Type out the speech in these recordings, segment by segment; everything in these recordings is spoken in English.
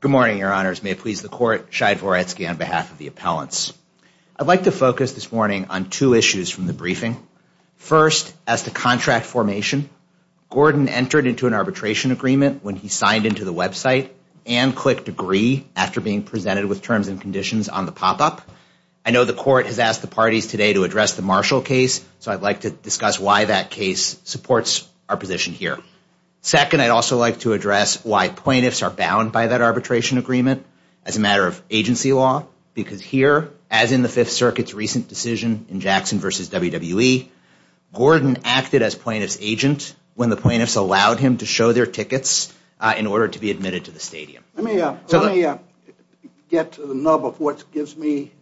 Good morning, your honors. May it please the court, Shai Voretsky on behalf of the appellants. I'd like to focus this morning on two issues from the briefing. First, as to contract formation, Gordon entered into an arbitration agreement when he signed into the website and clicked agree after being presented with terms and conditions on the pop-up. I know the court has asked the parties today to address the Marshall case, so I'd like to discuss why that case supports our position here. Second, I'd also like to address why plaintiffs are bound by that arbitration agreement as a matter of agency law, because here, as in the Fifth Circuit's recent decision in Jackson v. WWE, Gordon acted as plaintiff's agent when the plaintiffs allowed him to show their tickets in order to be admitted to the stadium. Let me get to the nub of what gives me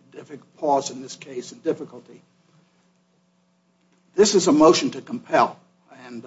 pause in this case and difficulty. This is a motion to compel, and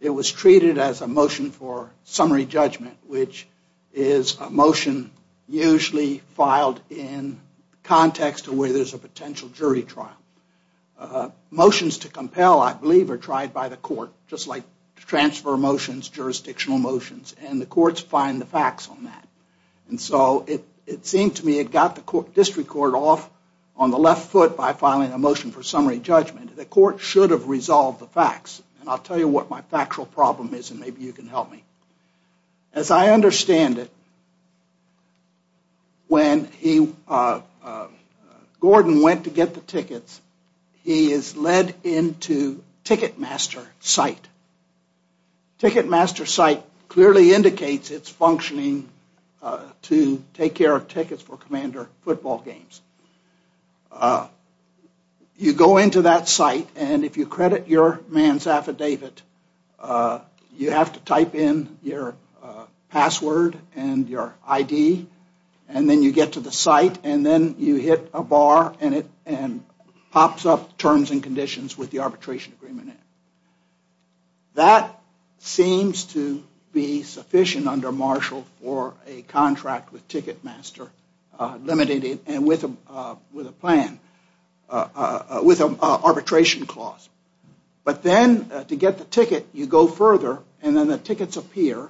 it was treated as a motion for summary judgment, which is a motion usually filed in context of where there's a potential jury trial. Motions to compel, I believe, are tried by the court, just like transfer motions, jurisdictional motions, and the courts find the facts on that. It seemed to me it got the district court off on the left foot by filing a motion for summary judgment. The court should have resolved the facts, and I'll tell you what my factual problem is, and maybe you can help me. As I understand it, when Gordon went to get the tickets, he is led into Ticketmaster site. Ticketmaster site clearly indicates its functioning to take care of tickets for Commander football games. You go into that site, and if you credit your man's affidavit, you have to type in your password and your ID, and then you get to the site, and then you hit a bar, and it pops up terms and conditions with the arbitration agreement in it. That seems to be sufficient under Marshall for a contract with Ticketmaster, limited and with a plan, with an arbitration clause. But then, to get the ticket, you go further, and then the tickets appear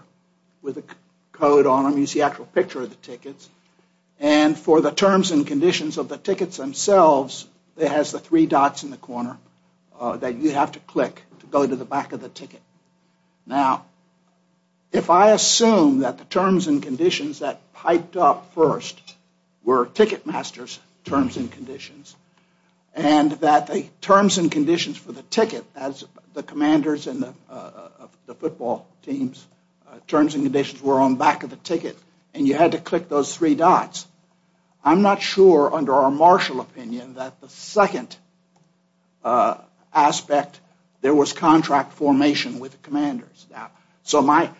with a code on them. You see the actual picture of the tickets, and for the terms and conditions of the tickets themselves, it has the three dots in the corner that you have to click to go to the back of the ticket. Now, if I assume that the terms and conditions that piped up first were Ticketmaster's terms and conditions, and that the terms and conditions for the ticket, as the commanders and the football teams' terms and conditions were on the back of the ticket, and you had to I'm not sure, under our Marshall opinion, that the second aspect, there was contract formation with the commanders. So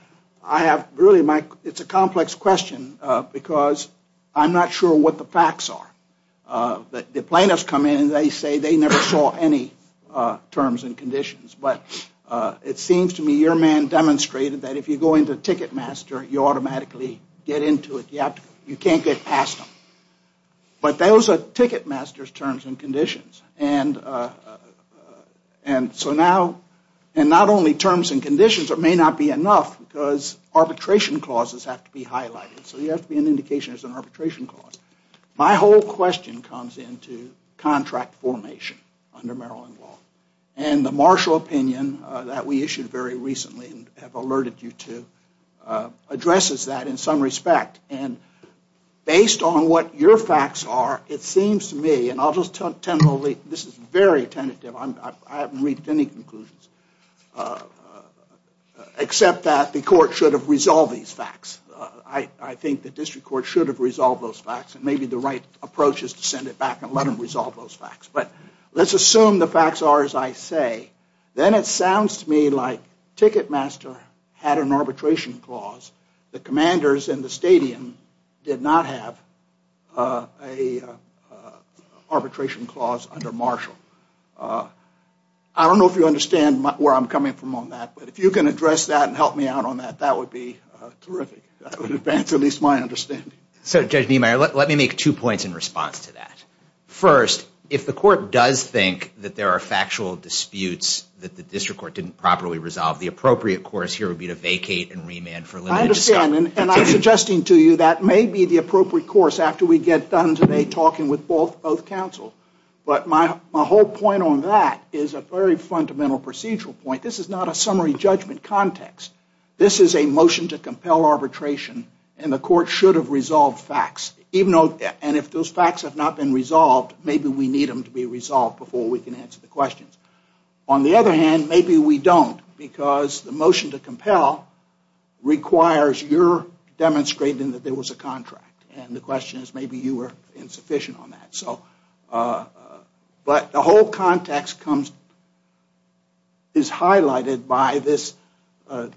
it's a complex question, because I'm not sure what the facts are. The plaintiffs come in and they say they never saw any terms and conditions, but it seems to me your man demonstrated that if you go into Ticketmaster, you automatically get into it. You can't get past them. But those are Ticketmaster's terms and conditions. And so now, and not only terms and conditions, it may not be enough, because arbitration clauses have to be highlighted. So you have to be an indication there's an arbitration clause. My whole question comes into contract formation under Maryland law. And the Marshall opinion that we issued very recently, and have alerted you to, addresses that in some respect. And based on what your facts are, it seems to me, and I'll just tell you, this is very tentative. I haven't reached any conclusions, except that the court should have resolved these I think the district court should have resolved those facts, and maybe the right approach is to send it back and let them resolve those facts. But let's assume the facts are as I say. Then it sounds to me like Ticketmaster had an arbitration clause. The commanders in the stadium did not have an arbitration clause under Marshall. I don't know if you understand where I'm coming from on that. But if you can address that and help me out on that, that would be terrific. That would advance at least my understanding. So Judge Niemeyer, let me make two points in response to that. First, if the court does think that there are factual disputes that the district court didn't properly resolve, the appropriate course here would be to vacate and remand for limited discussion. I understand. And I'm suggesting to you that may be the appropriate course after we get done today talking with both counsel. But my whole point on that is a very fundamental procedural point. This is not a summary judgment context. This is a motion to compel arbitration, and the court should have resolved facts. And if those facts have not been resolved, maybe we need them to be resolved before we can answer the questions. On the other hand, maybe we don't, because the motion to compel requires your demonstrating that there was a contract. And the question is maybe you were insufficient on that. But the whole context is highlighted by this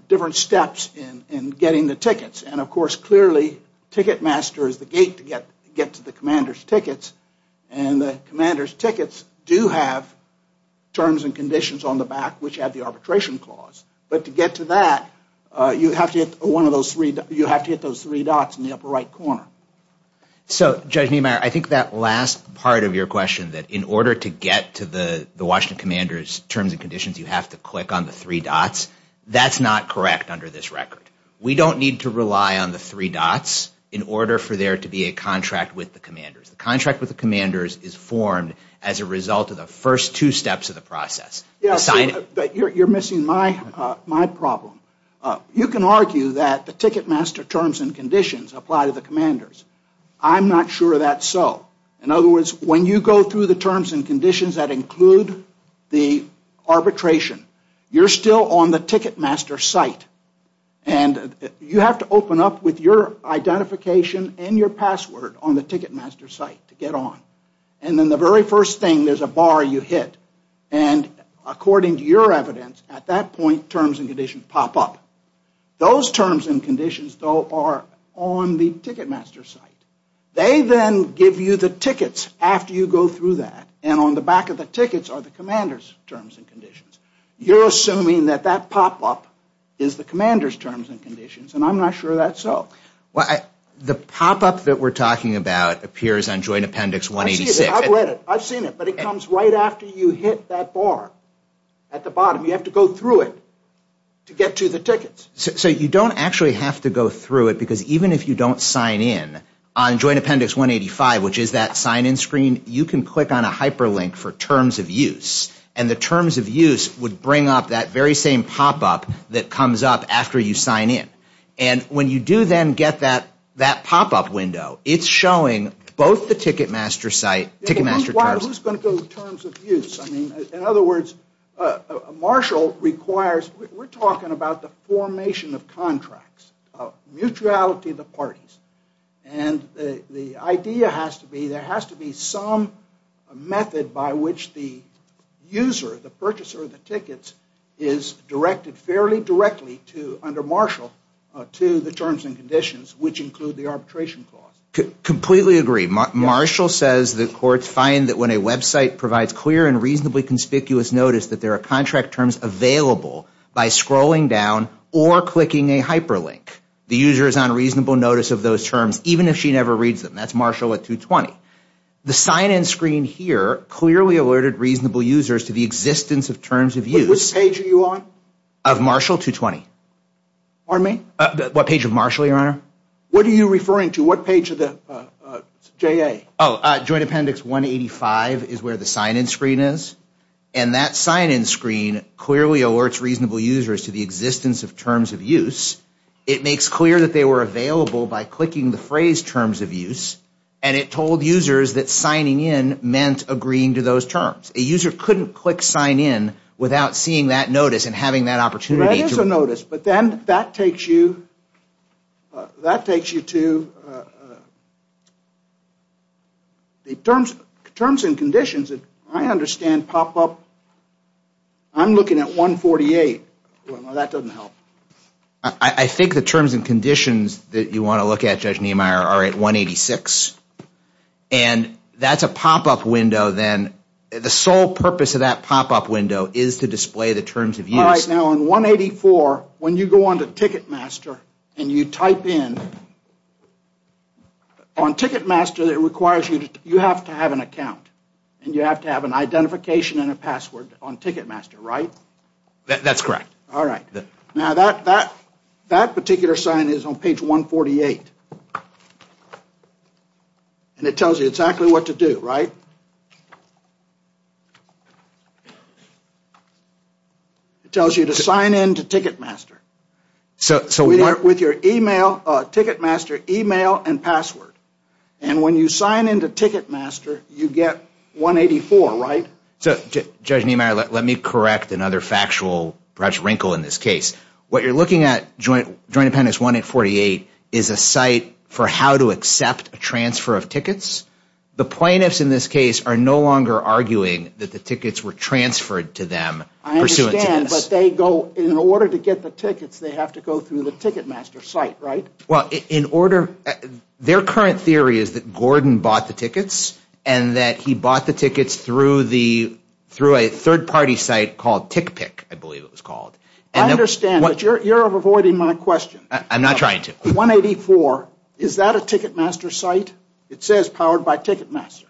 different steps in getting the tickets. And, of course, clearly Ticketmaster is the gate to get to the commander's tickets. And the commander's tickets do have terms and conditions on the back which have the arbitration clause. But to get to that, you have to get those three dots in the upper right corner. So, Judge Niemeyer, I think that last part of your question that in order to get to the Washington commander's terms and conditions, you have to click on the three dots, that's not correct under this record. We don't need to rely on the three dots in order for there to be a contract with the The contract with the commanders is formed as a result of the first two steps of the process. You're missing my problem. You can argue that the Ticketmaster terms and conditions apply to the commanders. I'm not sure that's so. In other words, when you go through the terms and conditions that include the arbitration, you're still on the Ticketmaster site. And you have to open up with your identification and your password on the Ticketmaster site to get on. And then the very first thing, there's a bar you hit. And according to your evidence, at that point, terms and conditions pop up. Those terms and conditions, though, are on the Ticketmaster site. They then give you the tickets after you go through that. And on the back of the tickets are the commander's terms and conditions. You're assuming that that pop-up is the commander's terms and conditions. And I'm not sure that's so. The pop-up that we're talking about appears on Joint Appendix 186. I've read it. I've seen it. But it comes right after you hit that bar at the bottom. You have to go through it to get to the tickets. So you don't actually have to go through it because even if you don't sign in, on Joint there's a hyperlink for terms of use. And the terms of use would bring up that very same pop-up that comes up after you sign in. And when you do then get that pop-up window, it's showing both the Ticketmaster site, Ticketmaster terms. Who's going to go with terms of use? In other words, Marshall requires, we're talking about the formation of contracts, of mutuality of the parties. And the idea has to be there has to be some method by which the user, the purchaser of the tickets, is directed fairly directly under Marshall to the terms and conditions, which include the arbitration clause. Completely agree. Marshall says the courts find that when a website provides clear and reasonably conspicuous notice that there are contract terms available by scrolling down or clicking a hyperlink. The user is on reasonable notice of those terms even if she never reads them. That's Marshall at 220. The sign-in screen here clearly alerted reasonable users to the existence of terms of use. What page are you on? Of Marshall 220. Pardon me? What page of Marshall, Your Honor? What are you referring to? What page of the JA? Joint Appendix 185 is where the sign-in screen is. And that sign-in screen clearly alerts reasonable users to the existence of terms of use. It makes clear that they were available by clicking the phrase terms of use. And it told users that signing in meant agreeing to those terms. A user couldn't click sign in without seeing that notice and having that opportunity to. There is a notice, but then that takes you to the terms and conditions that I understand pop up. I'm looking at 148. Well, that doesn't help. I think the terms and conditions that you want to look at, Judge Niemeyer, are at 186. And that's a pop-up window then. The sole purpose of that pop-up window is to display the terms of use. Now, on 184, when you go on to Ticketmaster and you type in, on Ticketmaster, it requires you to have an account. And you have to have an identification and a password on Ticketmaster, right? That's correct. All right. Now, that particular sign is on page 148. And it tells you exactly what to do, right? It tells you to sign in to Ticketmaster with your Ticketmaster email and password. And when you sign in to Ticketmaster, you get 184, right? So, Judge Niemeyer, let me correct another factual, perhaps, wrinkle in this case. What you're looking at, Joint Appendix 1848, is a site for how to accept a transfer of tickets. The plaintiffs in this case are no longer arguing that the tickets were transferred to them pursuant to this. I understand, but they go, in order to get the tickets, they have to go through the Ticketmaster site, right? Well, their current theory is that Gordon bought the tickets and that he bought the tickets through a third-party site called TickPick, I believe it was called. I understand, but you're avoiding my question. I'm not trying to. 184, is that a Ticketmaster site? It says powered by Ticketmaster.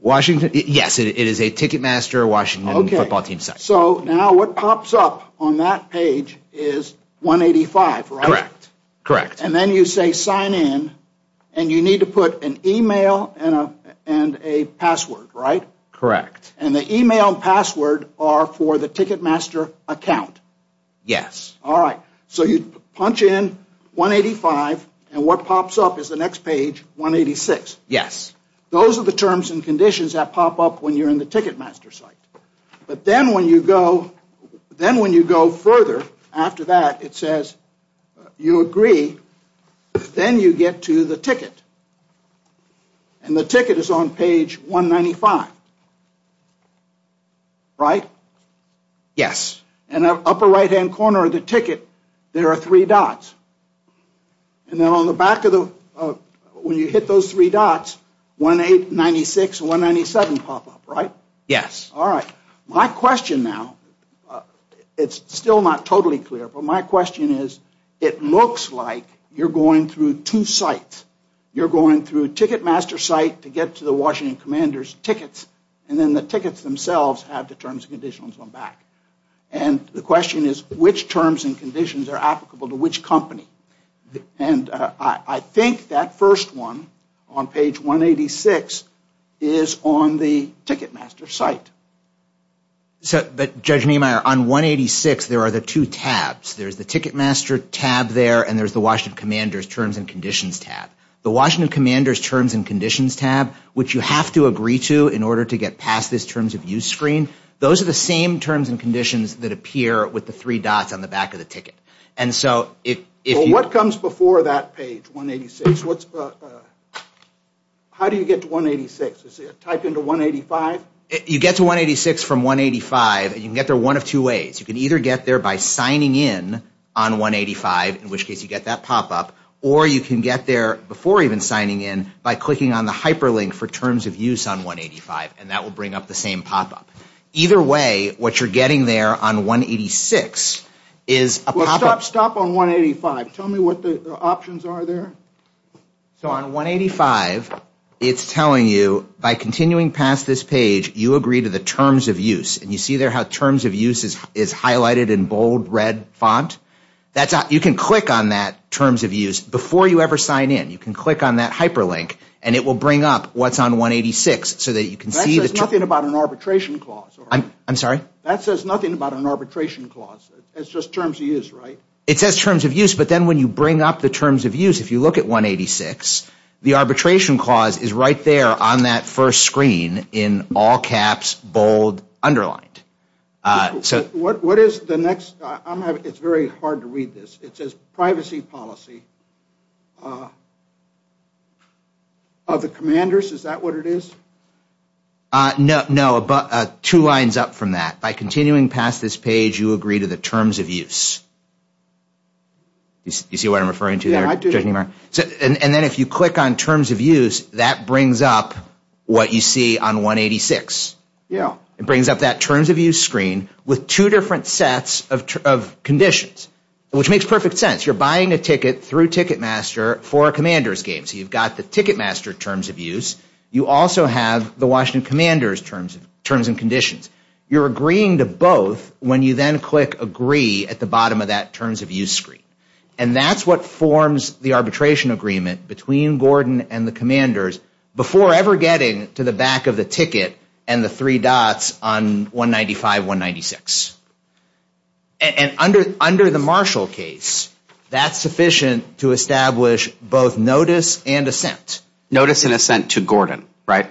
Washington, yes. It is a Ticketmaster Washington football team site. So, now, what pops up on that page is 185, right? Correct. And then you say sign in, and you need to put an email and a password, right? Correct. And the email and password are for the Ticketmaster account. Yes. All right. So, you punch in 185, and what pops up is the next page, 186. Yes. Those are the terms and conditions that pop up when you're in the Ticketmaster site. But then when you go further after that, it says you agree, then you get to the ticket. And the ticket is on page 195, right? Yes. In the upper right-hand corner of the ticket, there are three dots. And then on the back of the, when you hit those three dots, 1896 and 197 pop up, right? Yes. All right. My question now, it's still not totally clear, but my question is, it looks like you're going through two sites. You're going through Ticketmaster site to get to the Washington Commander's tickets, and then the tickets themselves have the terms and conditions on the back. And the question is, which terms and conditions are applicable to which company? And I think that first one on page 186 is on the Ticketmaster site. So, Judge Niemeyer, on 186, there are the two tabs. There's the Ticketmaster tab there, and there's the Washington Commander's terms and conditions tab. The Washington Commander's terms and conditions tab, which you have to agree to in order to get past this terms of use screen, those are the same terms and conditions that appear with the three dots on the back of the ticket. Well, what comes before that page, 186? How do you get to 186? Is it type into 185? You get to 186 from 185, and you can get there one of two ways. You can either get there by signing in on 185, in which case you get that pop up, or you can get there before even signing in by clicking on the hyperlink for terms of use on 185, and that will bring up the same pop up. Either way, what you're getting there on 186 is a pop up. Well, stop on 185. Tell me what the options are there. So on 185, it's telling you, by continuing past this page, you agree to the terms of use. And you see there how terms of use is highlighted in bold red font? You can click on that terms of use before you ever sign in. You can click on that hyperlink, and it will bring up what's on 186 so that you can see the terms of use. That says nothing about an arbitration clause. I'm sorry? That says nothing about an arbitration clause. It's just terms of use, right? It says terms of use, but then when you bring up the terms of use, if you look at 186, the arbitration clause is right there on that first screen in all caps, bold, underlined. What is the next? It's very hard to read this. It says privacy policy. Of the commanders, is that what it is? No, two lines up from that. By continuing past this page, you agree to the terms of use. You see what I'm referring to there? Yeah, I do. And then if you click on terms of use, that brings up what you see on 186. Yeah. It brings up that terms of use screen with two different sets of conditions, which makes perfect sense. You're buying a ticket through Ticketmaster for a commander's game. So you've got the Ticketmaster terms of use. You also have the Washington Commander's terms and conditions. You're agreeing to both when you then click agree at the bottom of that terms of use screen. And that's what forms the arbitration agreement between Gordon and the commanders before ever getting to the back of the ticket and the three dots on 195, 196. And under the Marshall case, that's sufficient to establish both notice and assent. Notice and assent to Gordon, right?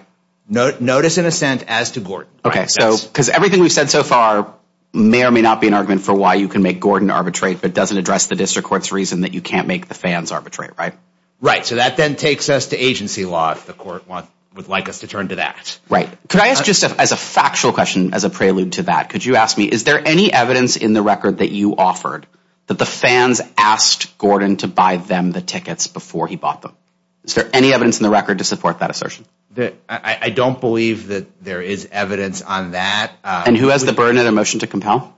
Notice and assent as to Gordon. Okay, because everything we've said so far may or may not be an argument for why you can make Gordon arbitrate, but doesn't address the district court's reason that you can't make the fans arbitrate, right? Right. So that then takes us to agency law if the court would like us to turn to that. Could I ask just as a factual question, as a prelude to that, could you ask me, is there any evidence in the record that you offered that the fans asked Gordon to buy them the tickets before he bought them? Is there any evidence in the record to support that assertion? I don't believe that there is evidence on that. And who has the burden and emotion to compel?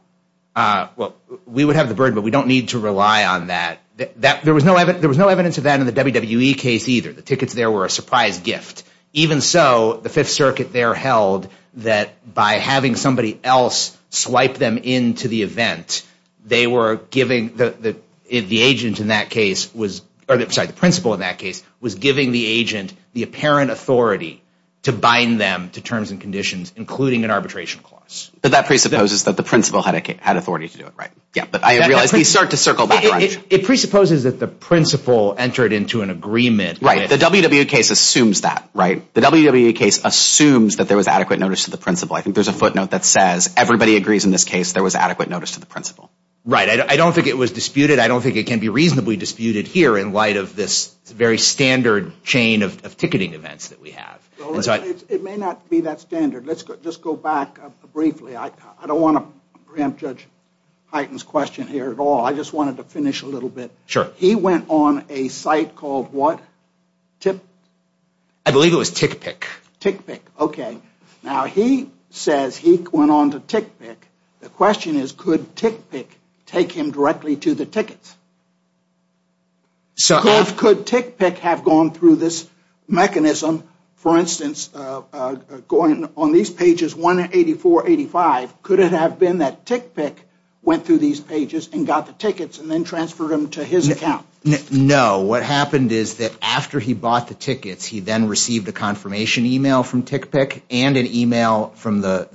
Well, we would have the burden, but we don't need to rely on that. There was no evidence of that in the WWE case either. The tickets there were a surprise gift. Even so, the Fifth Circuit there held that by having somebody else swipe them into the event, they were giving the agent in that case, or sorry, the principal in that case, was giving the agent the apparent authority to bind them to terms and conditions, including an arbitration clause. But that presupposes that the principal had authority to do it, right? Yeah, but I realize these start to circle back around. It presupposes that the principal entered into an agreement. Right. The WWE case assumes that, right? The WWE case assumes that there was adequate notice to the principal. I think there's a footnote that says everybody agrees in this case there was adequate notice to the principal. Right. I don't think it was disputed. I don't think it can be reasonably disputed here in light of this very standard chain of ticketing events that we have. It may not be that standard. Let's just go back briefly. I don't want to preempt Judge Heighten's question here at all. I just wanted to finish a little bit. He went on a site called what? I believe it was TickPick. TickPick. Okay. Now, he says he went on to TickPick. The question is, could TickPick take him directly to the tickets? Could TickPick have gone through this mechanism, for instance, going on these pages 184, 185? Could it have been that TickPick went through these pages and got the tickets and then transferred them to his account? No. What happened is that after he bought the tickets, he then received a confirmation e-mail from TickPick and an e-mail from the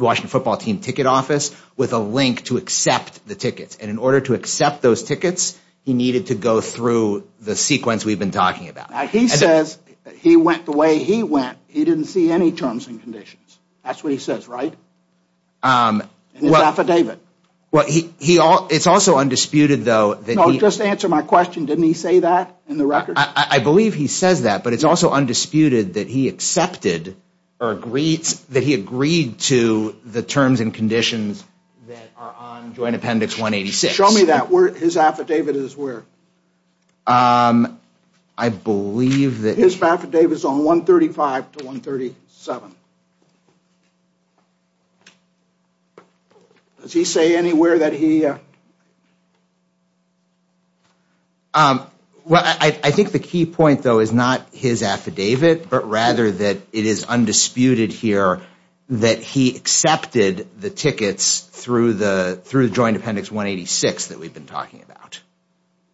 Washington football team ticket office with a link to accept the tickets. And in order to accept those tickets, he needed to go through the sequence we've been talking about. He says he went the way he went. He didn't see any terms and conditions. That's what he says, right? In his affidavit. Well, it's also undisputed, though, that he... No, just answer my question. Didn't he say that in the record? I believe he says that, but it's also undisputed that he accepted or agreed to the terms and conditions that are on Joint Appendix 186. Show me that. His affidavit is where? I believe that... His affidavit is on 135 to 137. Does he say anywhere that he... Well, I think the key point, though, is not his affidavit, but rather that it is undisputed here that he accepted the tickets through the Joint Appendix 186 that we've been talking about.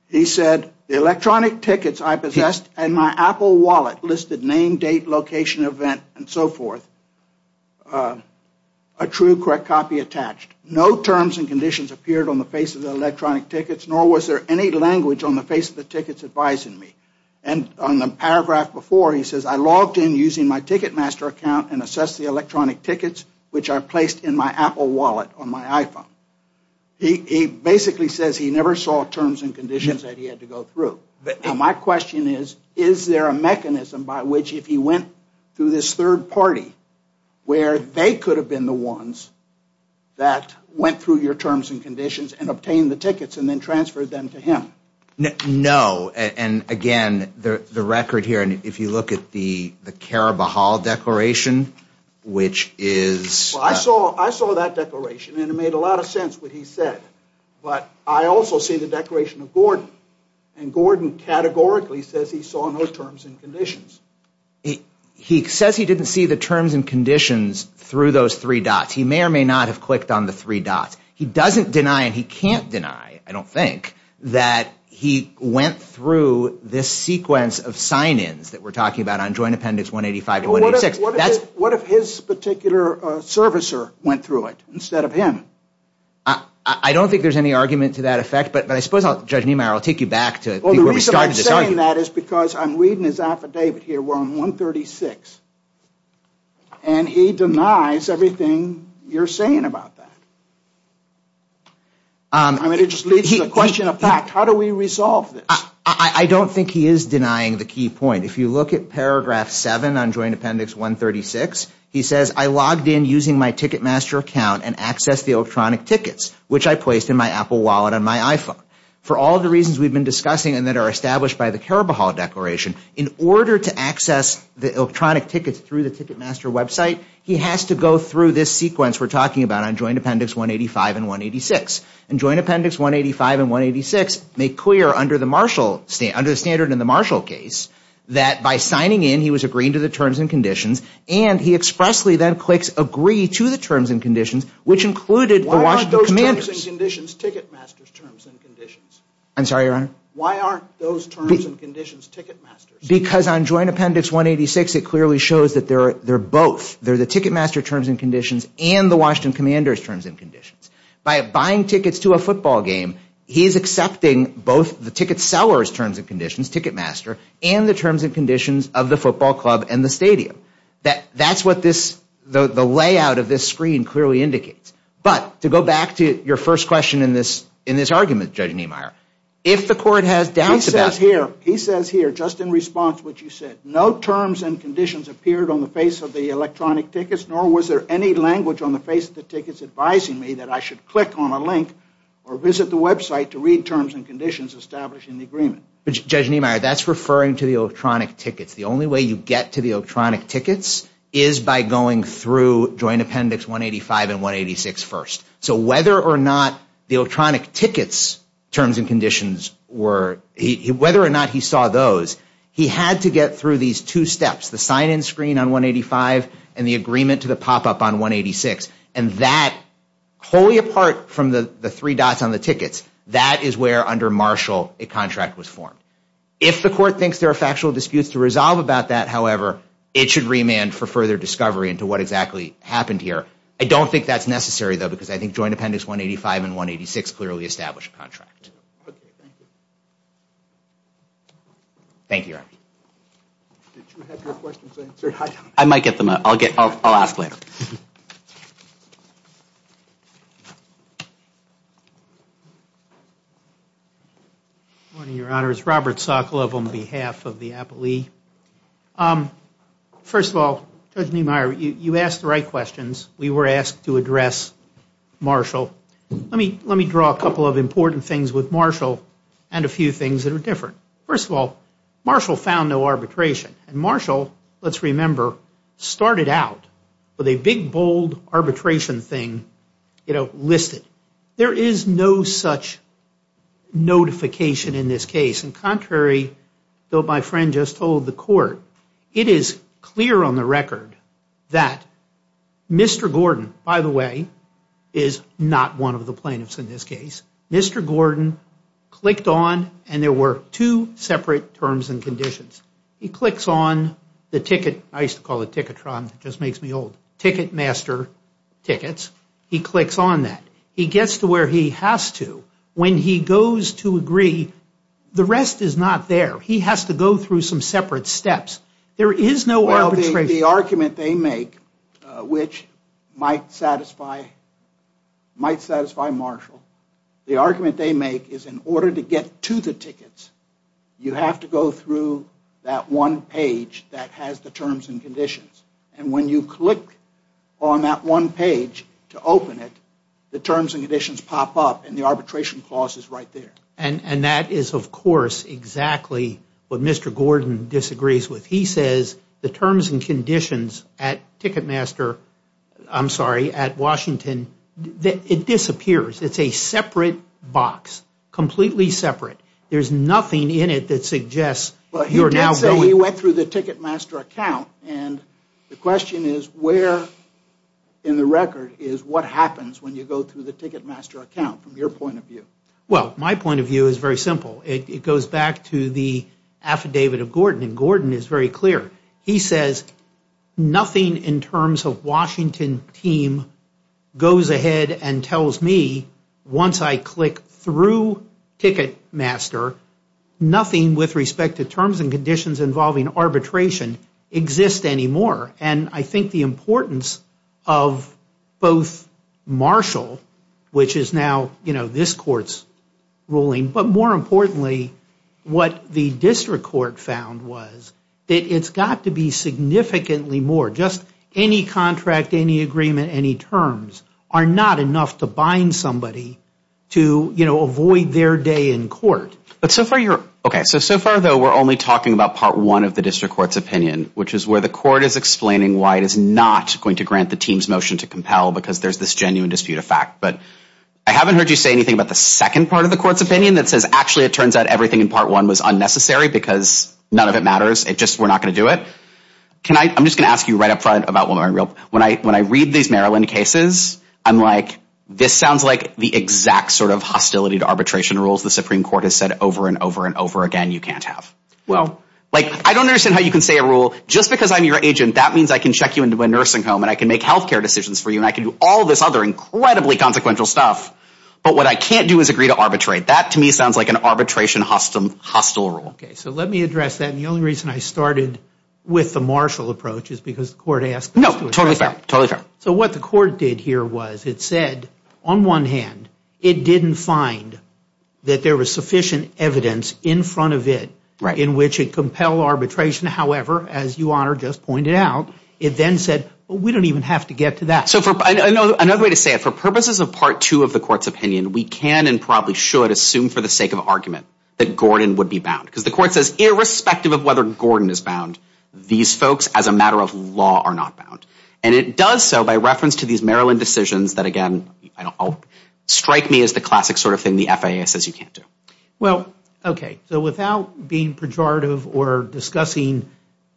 He said, the electronic tickets I possessed and my Apple wallet listed name, date, location, event, and so forth, a true correct copy attached. No terms and conditions appeared on the face of the electronic tickets, nor was there any language on the face of the tickets advising me. And on the paragraph before, he says, I logged in using my Ticketmaster account and assessed the electronic tickets, which I placed in my Apple wallet on my iPhone. He basically says he never saw terms and conditions that he had to go through. Now, my question is, is there a mechanism by which, if he went through this third party, where they could have been the ones that went through your terms and conditions and obtained the tickets and then transferred them to him? No. And, again, the record here, and if you look at the Carabajal Declaration, which is... Well, I saw that declaration, and it made a lot of sense what he said. But I also see the Declaration of Gordon, and Gordon categorically says he saw no terms and conditions. He says he didn't see the terms and conditions through those three dots. He may or may not have clicked on the three dots. He doesn't deny, and he can't deny, I don't think, that he went through this sequence of sign-ins that we're talking about on Joint Appendix 185 and 186. What if his particular servicer went through it instead of him? I don't think there's any argument to that effect, but I suppose, Judge Niemeyer, I'll take you back to where we started. Well, the reason I'm saying that is because I'm reading his affidavit here. We're on 136, and he denies everything you're saying about that. I mean, it just leads to the question of fact. How do we resolve this? I don't think he is denying the key point. If you look at Paragraph 7 on Joint Appendix 136, he says, I logged in using my Ticketmaster account and accessed the electronic tickets, which I placed in my Apple wallet and my iPhone. For all the reasons we've been discussing and that are established by the Karabahal Declaration, in order to access the electronic tickets through the Ticketmaster website, he has to go through this sequence we're talking about on Joint Appendix 185 and 186. And Joint Appendix 185 and 186 make clear, under the standard in the Marshall case, that by signing in, he was agreeing to the terms and conditions, and he expressly then clicks Agree to the terms and conditions, which included the Washington commanders. Why aren't those terms and conditions Ticketmaster's terms and conditions? I'm sorry, Your Honor? Why aren't those terms and conditions Ticketmaster's? Because on Joint Appendix 186, it clearly shows that they're both. They're the Ticketmaster terms and conditions and the Washington commanders terms and conditions. By buying tickets to a football game, he's accepting both the ticket seller's terms and conditions, Ticketmaster, and the terms and conditions of the football club and the stadium. That's what the layout of this screen clearly indicates. But to go back to your first question in this argument, Judge Niemeyer, if the court has doubts about... He says here, just in response to what you said, no terms and conditions appeared on the face of the electronic tickets, nor was there any language on the face of the tickets advising me that I should click on a link or visit the website to read terms and conditions established in the agreement. Judge Niemeyer, that's referring to the electronic tickets. The only way you get to the electronic tickets is by going through Joint Appendix 185 and 186 first. So whether or not the electronic tickets terms and conditions were... Whether or not he saw those, he had to get through these two steps, the sign-in screen on 185 and the agreement to the pop-up on 186. And that, wholly apart from the three dots on the tickets, that is where, under Marshall, a contract was formed. If the court thinks there are factual disputes to resolve about that, however, it should remand for further discovery into what exactly happened here. I don't think that's necessary, though, because I think Joint Appendix 185 and 186 clearly establish a contract. Thank you, Your Honor. Did you have your questions answered? I might get them. I'll ask later. Good morning, Your Honor. It's Robert Sokolov on behalf of the appellee. First of all, Judge Niemeyer, you asked the right questions. We were asked to address Marshall. Let me draw a couple of important things with Marshall and a few things that are different. First of all, Marshall found no arbitration. And Marshall, let's remember, started out with a big, bold arbitration thing listed. There is no such notification in this case. And contrary to what my friend just told the court, it is clear on the record that Mr. Gordon, by the way, is not one of the plaintiffs in this case. Mr. Gordon clicked on, and there were two separate terms and conditions. He clicks on the ticket master tickets. He clicks on that. He gets to where he has to. When he goes to agree, the rest is not there. He has to go through some separate steps. There is no arbitration. The argument they make, which might satisfy Marshall, the argument they make is in order to get to the tickets, you have to go through that one page that has the terms and conditions. And when you click on that one page to open it, the terms and conditions pop up and the arbitration clause is right there. And that is, of course, exactly what Mr. Gordon disagrees with. He says the terms and conditions at Ticketmaster, I'm sorry, at Washington, it disappears. It's a separate box, completely separate. There's nothing in it that suggests you're now going. He did say he went through the Ticketmaster account, and the question is where in the record is what happens when you go through the Ticketmaster account from your point of view? Well, my point of view is very simple. It goes back to the affidavit of Gordon, and Gordon is very clear. He says nothing in terms of Washington team goes ahead and tells me once I click through Ticketmaster, nothing with respect to terms and conditions involving arbitration exists anymore. And I think the importance of both Marshall, which is now this court's ruling, but more importantly, what the district court found was that it's got to be significantly more. Just any contract, any agreement, any terms are not enough to bind somebody to avoid their day in court. So far, though, we're only talking about part one of the district court's opinion, which is where the court is explaining why it is not going to grant the team's right to compel because there's this genuine dispute of fact. But I haven't heard you say anything about the second part of the court's opinion that says actually it turns out everything in part one was unnecessary because none of it matters. It's just we're not going to do it. I'm just going to ask you right up front about when I read these Maryland cases, I'm like this sounds like the exact sort of hostility to arbitration rules the Supreme Court has said over and over and over again you can't have. Well, like I don't understand how you can say a rule. Just because I'm your agent, that means I can check you into a nursing home and I can make health care decisions for you and I can do all this other incredibly consequential stuff. But what I can't do is agree to arbitrate. That, to me, sounds like an arbitration hostile rule. Okay, so let me address that. And the only reason I started with the Marshall approach is because the court asked us to address that. No, totally fair, totally fair. So what the court did here was it said on one hand it didn't find that there was sufficient evidence in front of it in which it compelled arbitration. However, as you, Honor, just pointed out, it then said, we don't even have to get to that. So another way to say it, for purposes of Part 2 of the court's opinion, we can and probably should assume for the sake of argument that Gordon would be bound because the court says irrespective of whether Gordon is bound, these folks as a matter of law are not bound. And it does so by reference to these Maryland decisions that, again, strike me as the classic sort of thing the FAA says you can't do. Well, okay, so without being pejorative or discussing,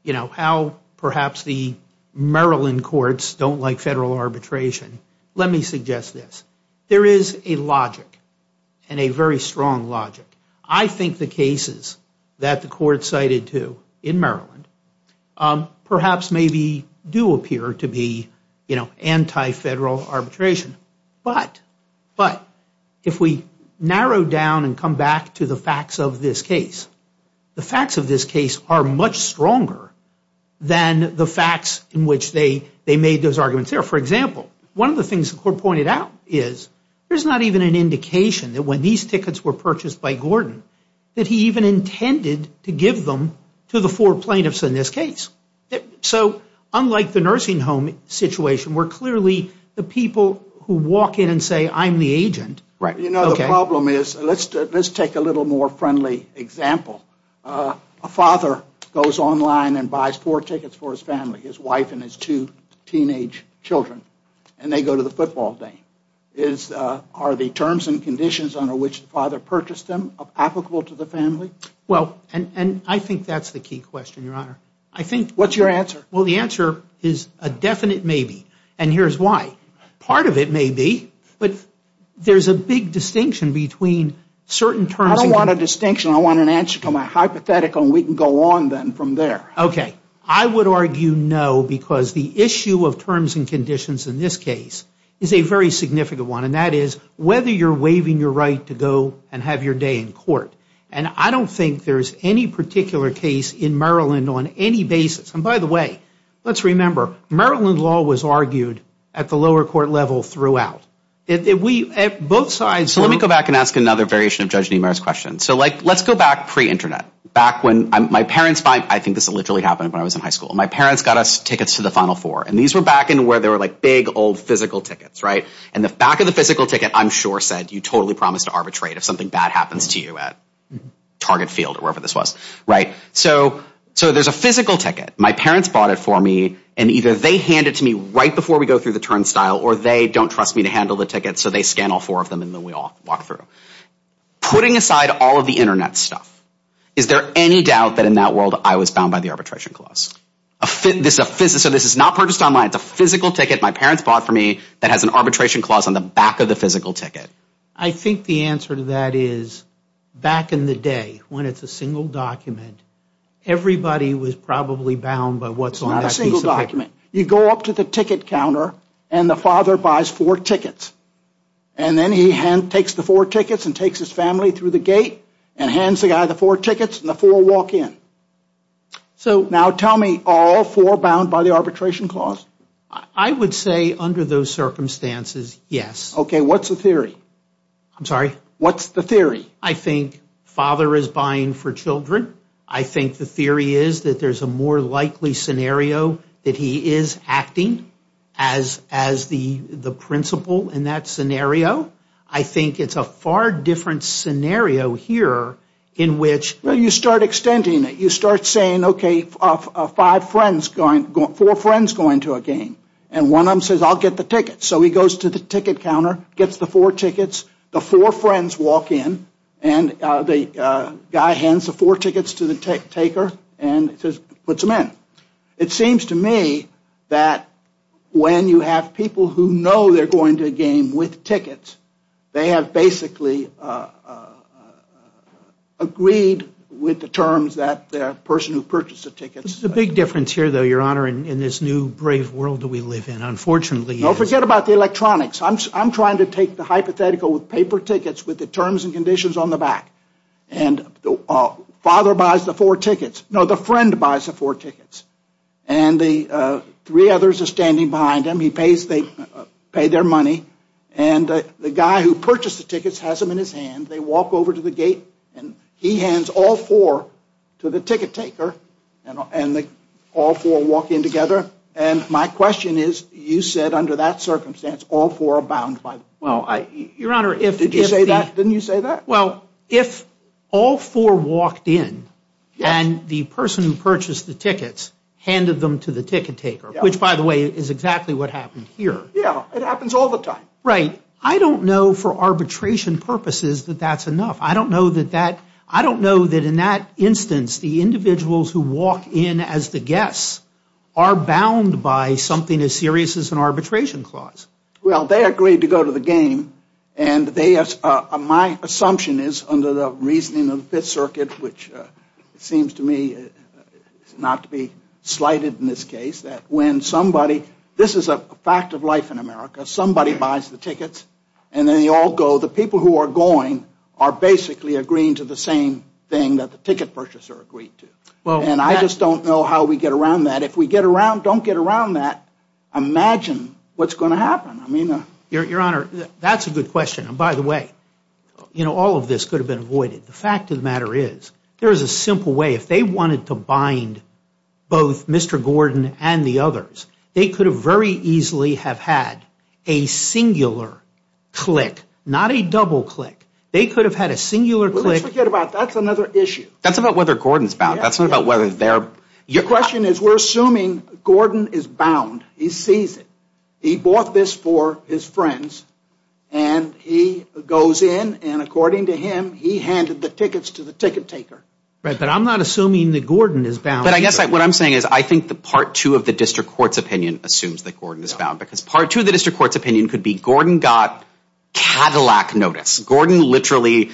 you know, how perhaps the Maryland courts don't like federal arbitration, let me suggest this. There is a logic and a very strong logic. I think the cases that the court cited to in Maryland perhaps maybe do appear to be, you know, anti-federal arbitration. But if we narrow down and come back to the facts of this case, the facts of this case are much stronger than the facts in which they made those arguments there. For example, one of the things the court pointed out is there's not even an indication that when these tickets were purchased by Gordon that he even intended to give them to the four plaintiffs in this case. So unlike the nursing home situation where clearly the people who walk in and say I'm the agent. You know, the problem is let's take a little more friendly example. A father goes online and buys four tickets for his family, his wife and his two teenage children, and they go to the football game. Are the terms and conditions under which the father purchased them applicable to the family? Well, and I think that's the key question, Your Honor. I think. What's your answer? Well, the answer is a definite maybe, and here's why. Part of it may be, but there's a big distinction between certain terms. I don't want a distinction. I want an answer from a hypothetical, and we can go on then from there. Okay. I would argue no because the issue of terms and conditions in this case is a very significant one, and that is whether you're waiving your right to go and have your day in court. And I don't think there's any particular case in Maryland on any basis. And by the way, let's remember, Maryland law was argued at the lower court level throughout. Both sides were. So let me go back and ask another variation of Judge Niemeyer's question. So, like, let's go back pre-Internet, back when my parents, I think this literally happened when I was in high school. My parents got us tickets to the Final Four, and these were back in where they were like big old physical tickets, right? And the back of the physical ticket, I'm sure, said, you totally promised to arbitrate if something bad happens to you at Target Field or wherever this was, right? So there's a physical ticket. My parents bought it for me, and either they hand it to me right before we go through the turnstile, or they don't trust me to handle the ticket, so they scan all four of them and then we all walk through. Putting aside all of the Internet stuff, is there any doubt that in that world I was bound by the arbitration clause? So this is not purchased online. It's a physical ticket my parents bought for me that has an arbitration clause on the back of the physical ticket. I think the answer to that is, back in the day, when it's a single document, everybody was probably bound by what's on that piece of paper. You go up to the ticket counter, and the father buys four tickets. And then he takes the four tickets and takes his family through the gate and hands the guy the four tickets, and the four walk in. Now tell me, are all four bound by the arbitration clause? I would say under those circumstances, yes. Okay, what's the theory? I'm sorry? What's the theory? I think father is buying for children. I think the theory is that there's a more likely scenario that he is acting as the principal in that scenario. I think it's a far different scenario here in which... Well, you start extending it. You start saying, okay, four friends going to a game. And one of them says, I'll get the tickets. So he goes to the ticket counter, gets the four tickets, the four friends walk in, and the guy hands the four tickets to the taker and puts them in. It seems to me that when you have people who know they're going to a game with tickets, they have basically agreed with the terms that the person who purchased the tickets... This is a big difference here, though, Your Honor, in this new brave world that we live in, unfortunately. No, forget about the electronics. I'm trying to take the hypothetical with paper tickets with the terms and conditions on the back. And the father buys the four tickets. No, the friend buys the four tickets. And the three others are standing behind him. And he pays their money. And the guy who purchased the tickets has them in his hand. They walk over to the gate, and he hands all four to the ticket taker, and all four walk in together. And my question is, you said under that circumstance all four are bound by the... Did you say that? Didn't you say that? Well, if all four walked in and the person who purchased the tickets handed them to the ticket taker, which, by the way, is exactly what happened here. Yeah, it happens all the time. Right. I don't know for arbitration purposes that that's enough. I don't know that in that instance the individuals who walk in as the guests are bound by something as serious as an arbitration clause. Well, they agreed to go to the game, and my assumption is under the reasoning of the Fifth Circuit, which seems to me not to be slighted in this case, that when somebody, this is a fact of life in America, somebody buys the tickets and then they all go. The people who are going are basically agreeing to the same thing that the ticket purchaser agreed to. And I just don't know how we get around that. If we don't get around that, imagine what's going to happen. Your Honor, that's a good question. And by the way, all of this could have been avoided. The fact of the matter is there is a simple way. If they wanted to bind both Mr. Gordon and the others, they could have very easily have had a singular click, not a double click. They could have had a singular click. Let's forget about that. That's another issue. That's about whether Gordon's bound. That's not about whether they're bound. Your question is we're assuming Gordon is bound. He sees it. He bought this for his friends, and he goes in, and according to him, he handed the tickets to the ticket taker. Right, but I'm not assuming that Gordon is bound. But I guess what I'm saying is I think the Part 2 of the district court's opinion assumes that Gordon is bound because Part 2 of the district court's opinion could be Gordon got Cadillac notice. Gordon literally,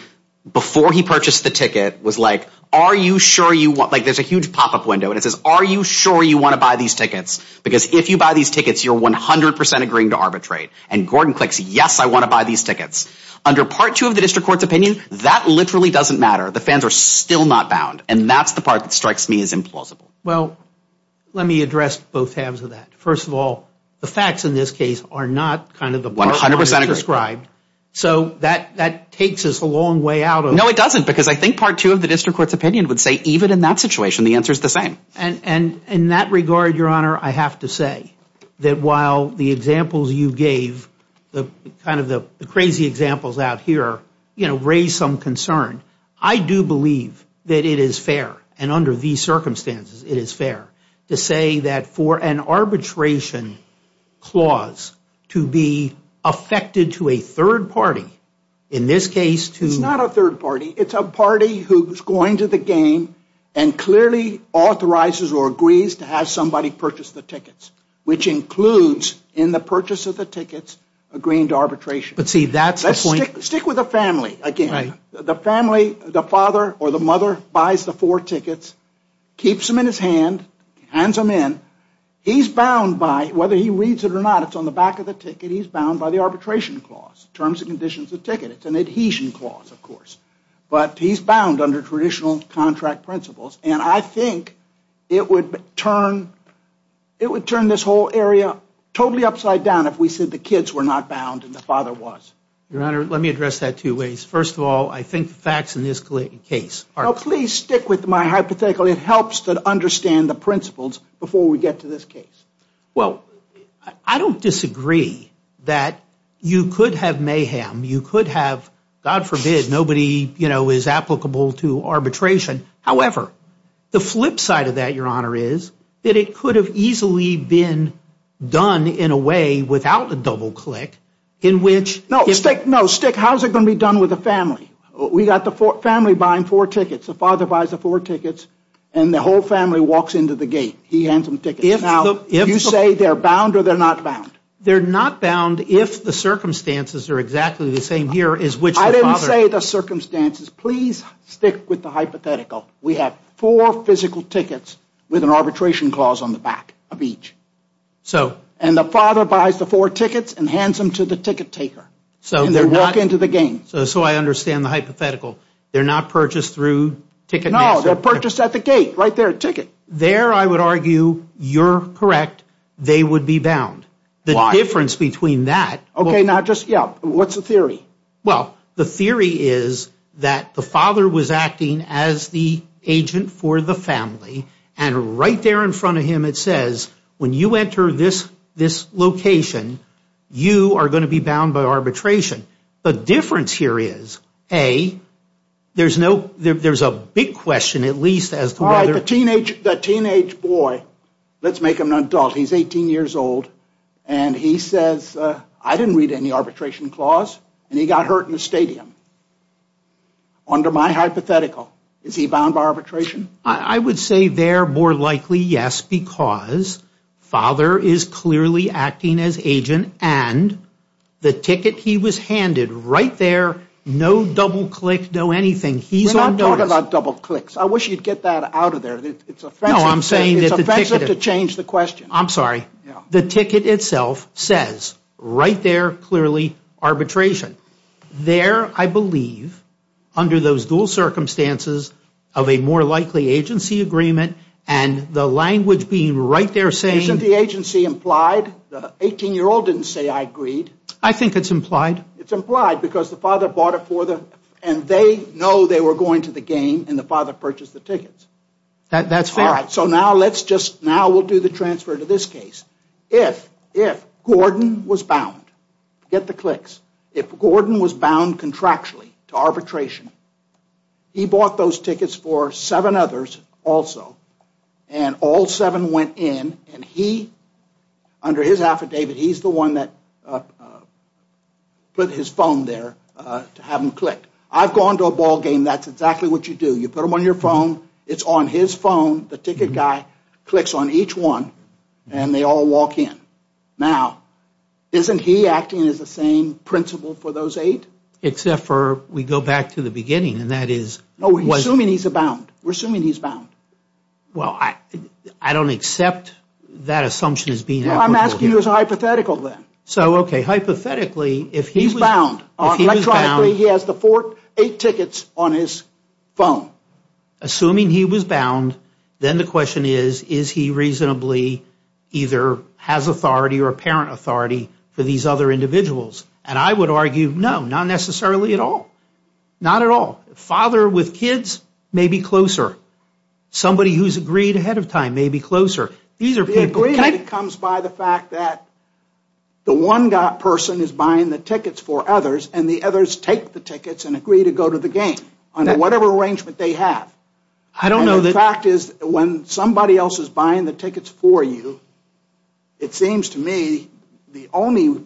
before he purchased the ticket, was like, are you sure you want, like there's a huge pop-up window, and it says are you sure you want to buy these tickets because if you buy these tickets, you're 100% agreeing to arbitrate. And Gordon clicks, yes, I want to buy these tickets. Under Part 2 of the district court's opinion, that literally doesn't matter. The fans are still not bound. And that's the part that strikes me as implausible. Well, let me address both halves of that. First of all, the facts in this case are not kind of the part I described. So that takes us a long way out of it. No, it doesn't because I think Part 2 of the district court's opinion would say even in that situation, the answer is the same. And in that regard, Your Honor, I have to say that while the examples you gave, kind of the crazy examples out here, you know, raise some concern, I do believe that it is fair, and under these circumstances, it is fair, to say that for an arbitration clause to be affected to a third party, in this case to... It's not a third party. It's a party who's going to the game and clearly authorizes or agrees to have somebody purchase the tickets, which includes in the purchase of the tickets agreeing to arbitration. But see, that's the point... Stick with the family, again. The family, the father or the mother, buys the four tickets, keeps them in his hand, hands them in. He's bound by, whether he reads it or not, it's on the back of the ticket, he's bound by the arbitration clause, terms and conditions of the ticket. It's an adhesion clause, of course. But he's bound under traditional contract principles. And I think it would turn this whole area totally upside down if we said the kids were not bound and the father was. Your Honor, let me address that two ways. First of all, I think the facts in this case are... Please stick with my hypothetical. It helps to understand the principles before we get to this case. Well, I don't disagree that you could have mayhem. You could have, God forbid, nobody, you know, is applicable to arbitration. However, the flip side of that, Your Honor, is that it could have easily been done in a way without a double-click in which... No, Stick, how is it going to be done with the family? We've got the family buying four tickets, the father buys the four tickets, and the whole family walks into the gate. He hands them tickets. Now, you say they're bound or they're not bound? They're not bound if the circumstances are exactly the same here as which the father... Please stick with the hypothetical. We have four physical tickets with an arbitration clause on the back of each. So... And the father buys the four tickets and hands them to the ticket taker. So they're not... And they walk into the gate. So I understand the hypothetical. They're not purchased through ticket... No, they're purchased at the gate, right there, ticket. There I would argue you're correct. They would be bound. Why? The difference between that... Okay, now just, yeah, what's the theory? Well, the theory is that the father was acting as the agent for the family, and right there in front of him it says, when you enter this location, you are going to be bound by arbitration. The difference here is, A, there's a big question at least as to whether... All right, the teenage boy, let's make him an adult, he's 18 years old, and he says, I didn't read any arbitration clause, and he got hurt in the stadium. Under my hypothetical, is he bound by arbitration? I would say they're more likely yes, because father is clearly acting as agent, and the ticket he was handed right there, no double click, no anything. He's on notice. We're not talking about double clicks. I wish you'd get that out of there. It's offensive to change the question. I'm sorry. The ticket itself says, right there, clearly, arbitration. There, I believe, under those dual circumstances of a more likely agency agreement, and the language being right there saying... Isn't the agency implied? The 18-year-old didn't say, I agreed. I think it's implied. It's implied, because the father bought it for them, and they know they were going to the game, and the father purchased the tickets. That's fair. All right, so now we'll do the transfer to this case. If Gordon was bound, get the clicks. If Gordon was bound contractually to arbitration, he bought those tickets for seven others also, and all seven went in, and he, under his affidavit, he's the one that put his phone there to have them clicked. I've gone to a ball game. That's exactly what you do. You put them on your phone. It's on his phone. The ticket guy clicks on each one, and they all walk in. Now, isn't he acting as the same principle for those eight? Except for we go back to the beginning, and that is... No, we're assuming he's bound. We're assuming he's bound. Well, I don't accept that assumption as being... Well, I'm asking you as a hypothetical then. So, okay, hypothetically, if he was... Electronically, he has the eight tickets on his phone. Assuming he was bound, then the question is, is he reasonably either has authority or parent authority for these other individuals? And I would argue, no, not necessarily at all. Not at all. Father with kids may be closer. Somebody who's agreed ahead of time may be closer. The agreement comes by the fact that the one person is buying the tickets for others, and the others take the tickets and agree to go to the game under whatever arrangement they have. I don't know that... And the fact is, when somebody else is buying the tickets for you, it seems to me the only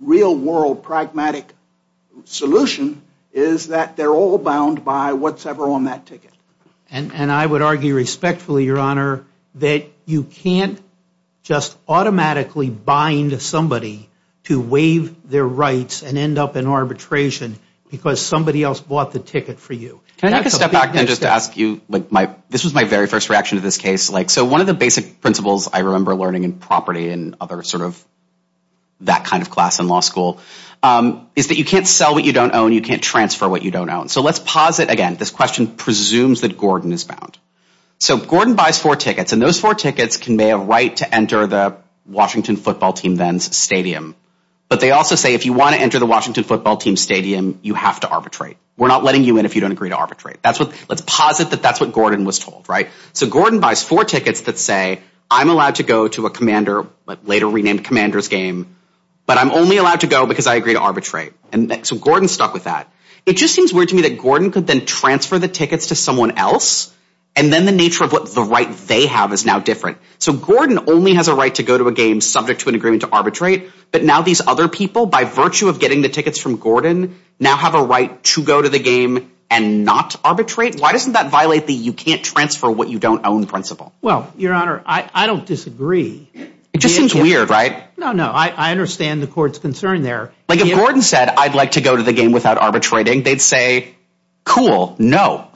real-world pragmatic solution is that they're all bound by what's ever on that ticket. And I would argue respectfully, Your Honor, that you can't just automatically bind somebody to waive their rights and end up in arbitration because somebody else bought the ticket for you. Can I just step back and just ask you... This was my very first reaction to this case. So one of the basic principles I remember learning in property and other sort of that kind of class in law school is that you can't sell what you don't own, you can't transfer what you don't own. So let's pause it again. This question presumes that Gordon is bound. So Gordon buys four tickets, and those four tickets convey a right to enter the Washington football team then's stadium. But they also say if you want to enter the Washington football team's stadium, you have to arbitrate. We're not letting you in if you don't agree to arbitrate. Let's pause it that that's what Gordon was told, right? So Gordon buys four tickets that say, I'm allowed to go to a commander, later renamed commander's game, but I'm only allowed to go because I agree to arbitrate. So Gordon's stuck with that. It just seems weird to me that Gordon could then transfer the tickets to someone else, and then the nature of what the right they have is now different. So Gordon only has a right to go to a game subject to an agreement to arbitrate, but now these other people, by virtue of getting the tickets from Gordon, now have a right to go to the game and not arbitrate? Why doesn't that violate the you can't transfer what you don't own principle? Well, your honor, I don't disagree. It just seems weird, right? No, no, I understand the court's concern there. Like if Gordon said, I'd like to go to the game without arbitrating, they'd say, cool, no.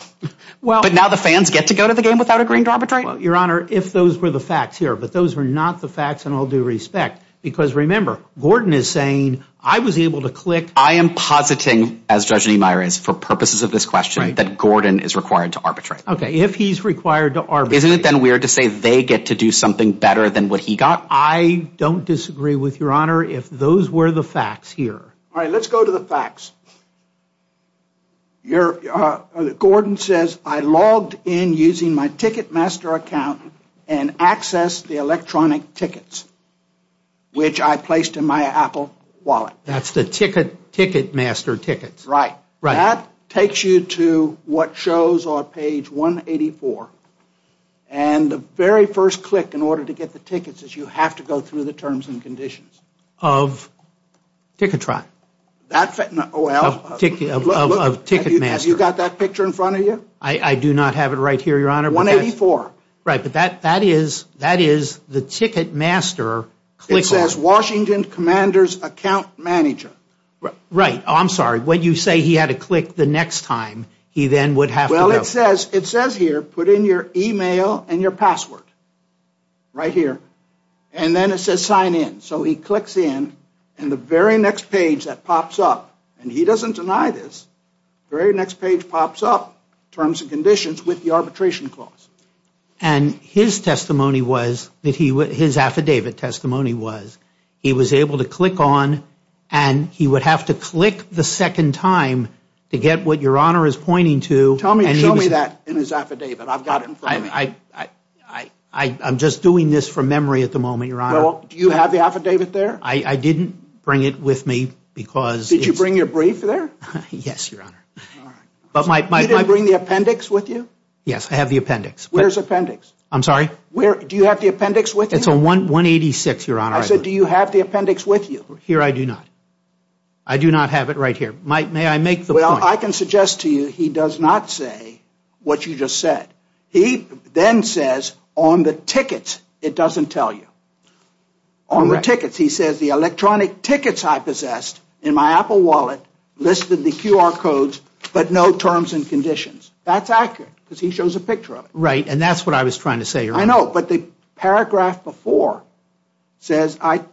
But now the fans get to go to the game without agreeing to arbitrate? Well, your honor, if those were the facts here, but those were not the facts in all due respect, because remember, Gordon is saying, I was able to click. I am positing, as Judge Niemeyer is, for purposes of this question, that Gordon is required to arbitrate. Okay, if he's required to arbitrate. Isn't it then weird to say they get to do something better than what he got? I don't disagree with your honor if those were the facts here. All right, let's go to the facts. Gordon says, I logged in using my Ticketmaster account and accessed the electronic tickets, which I placed in my Apple wallet. That's the Ticketmaster tickets. Right. That takes you to what shows on page 184. And the very first click in order to get the tickets is you have to go through the terms and conditions. Of Ticketron. Well, have you got that picture in front of you? I do not have it right here, your honor. 184. Right, but that is the Ticketmaster. It says Washington Commander's Account Manager. Right. I'm sorry, when you say he had to click the next time, he then would have to go. Well, it says here, put in your e-mail and your password. Right here. And then it says sign in. So he clicks in, and the very next page that pops up, and he doesn't deny this, the very next page pops up, terms and conditions with the arbitration clause. And his affidavit testimony was he was able to click on, and he would have to click the second time to get what your honor is pointing to. Show me that in his affidavit. I've got it in front of me. I'm just doing this from memory at the moment, your honor. Do you have the affidavit there? I didn't bring it with me. Did you bring your brief there? Yes, your honor. You didn't bring the appendix with you? Yes, I have the appendix. Where's the appendix? I'm sorry? Do you have the appendix with you? It's on 186, your honor. I said do you have the appendix with you? Here I do not. I do not have it right here. May I make the point? Well, I can suggest to you he does not say what you just said. He then says on the tickets it doesn't tell you. On the tickets he says the electronic tickets I possessed in my Apple wallet listed the QR codes but no terms and conditions. That's accurate because he shows a picture of it. Right, and that's what I was trying to say, your honor. I know, but the paragraph before says I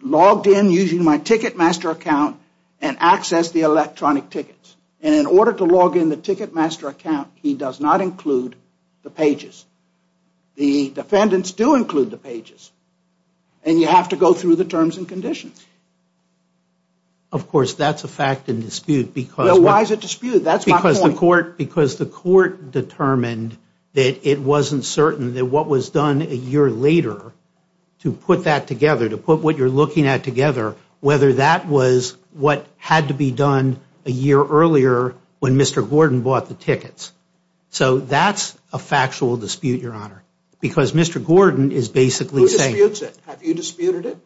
logged in using my Ticketmaster account and accessed the electronic tickets. And in order to log in the Ticketmaster account he does not include the pages. The defendants do include the pages. And you have to go through the terms and conditions. Of course, that's a fact and dispute because Well, why is it a dispute? That's my point. Because the court determined that it wasn't certain that what was done a year later to put that together, to put what you're looking at together, whether that was what had to be done a year earlier when Mr. Gordon bought the tickets. So that's a factual dispute, your honor, because Mr. Gordon is basically saying Who disputes it? Have you disputed it?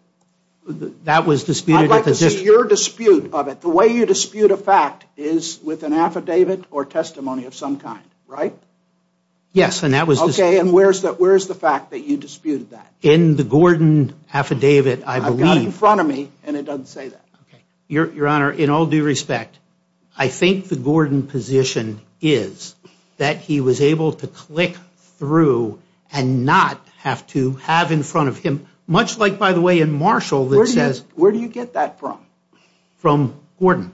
I'd like to see your dispute of it. The way you dispute a fact is with an affidavit or testimony of some kind, right? Yes, and that was Okay, and where's the fact that you disputed that? In the Gordon affidavit, I believe. I've got it in front of me and it doesn't say that. Your honor, in all due respect, I think the Gordon position is that he was able to click through and not have to have in front of him, much like, by the way, in Marshall that says Where do you get that from? From Gordon.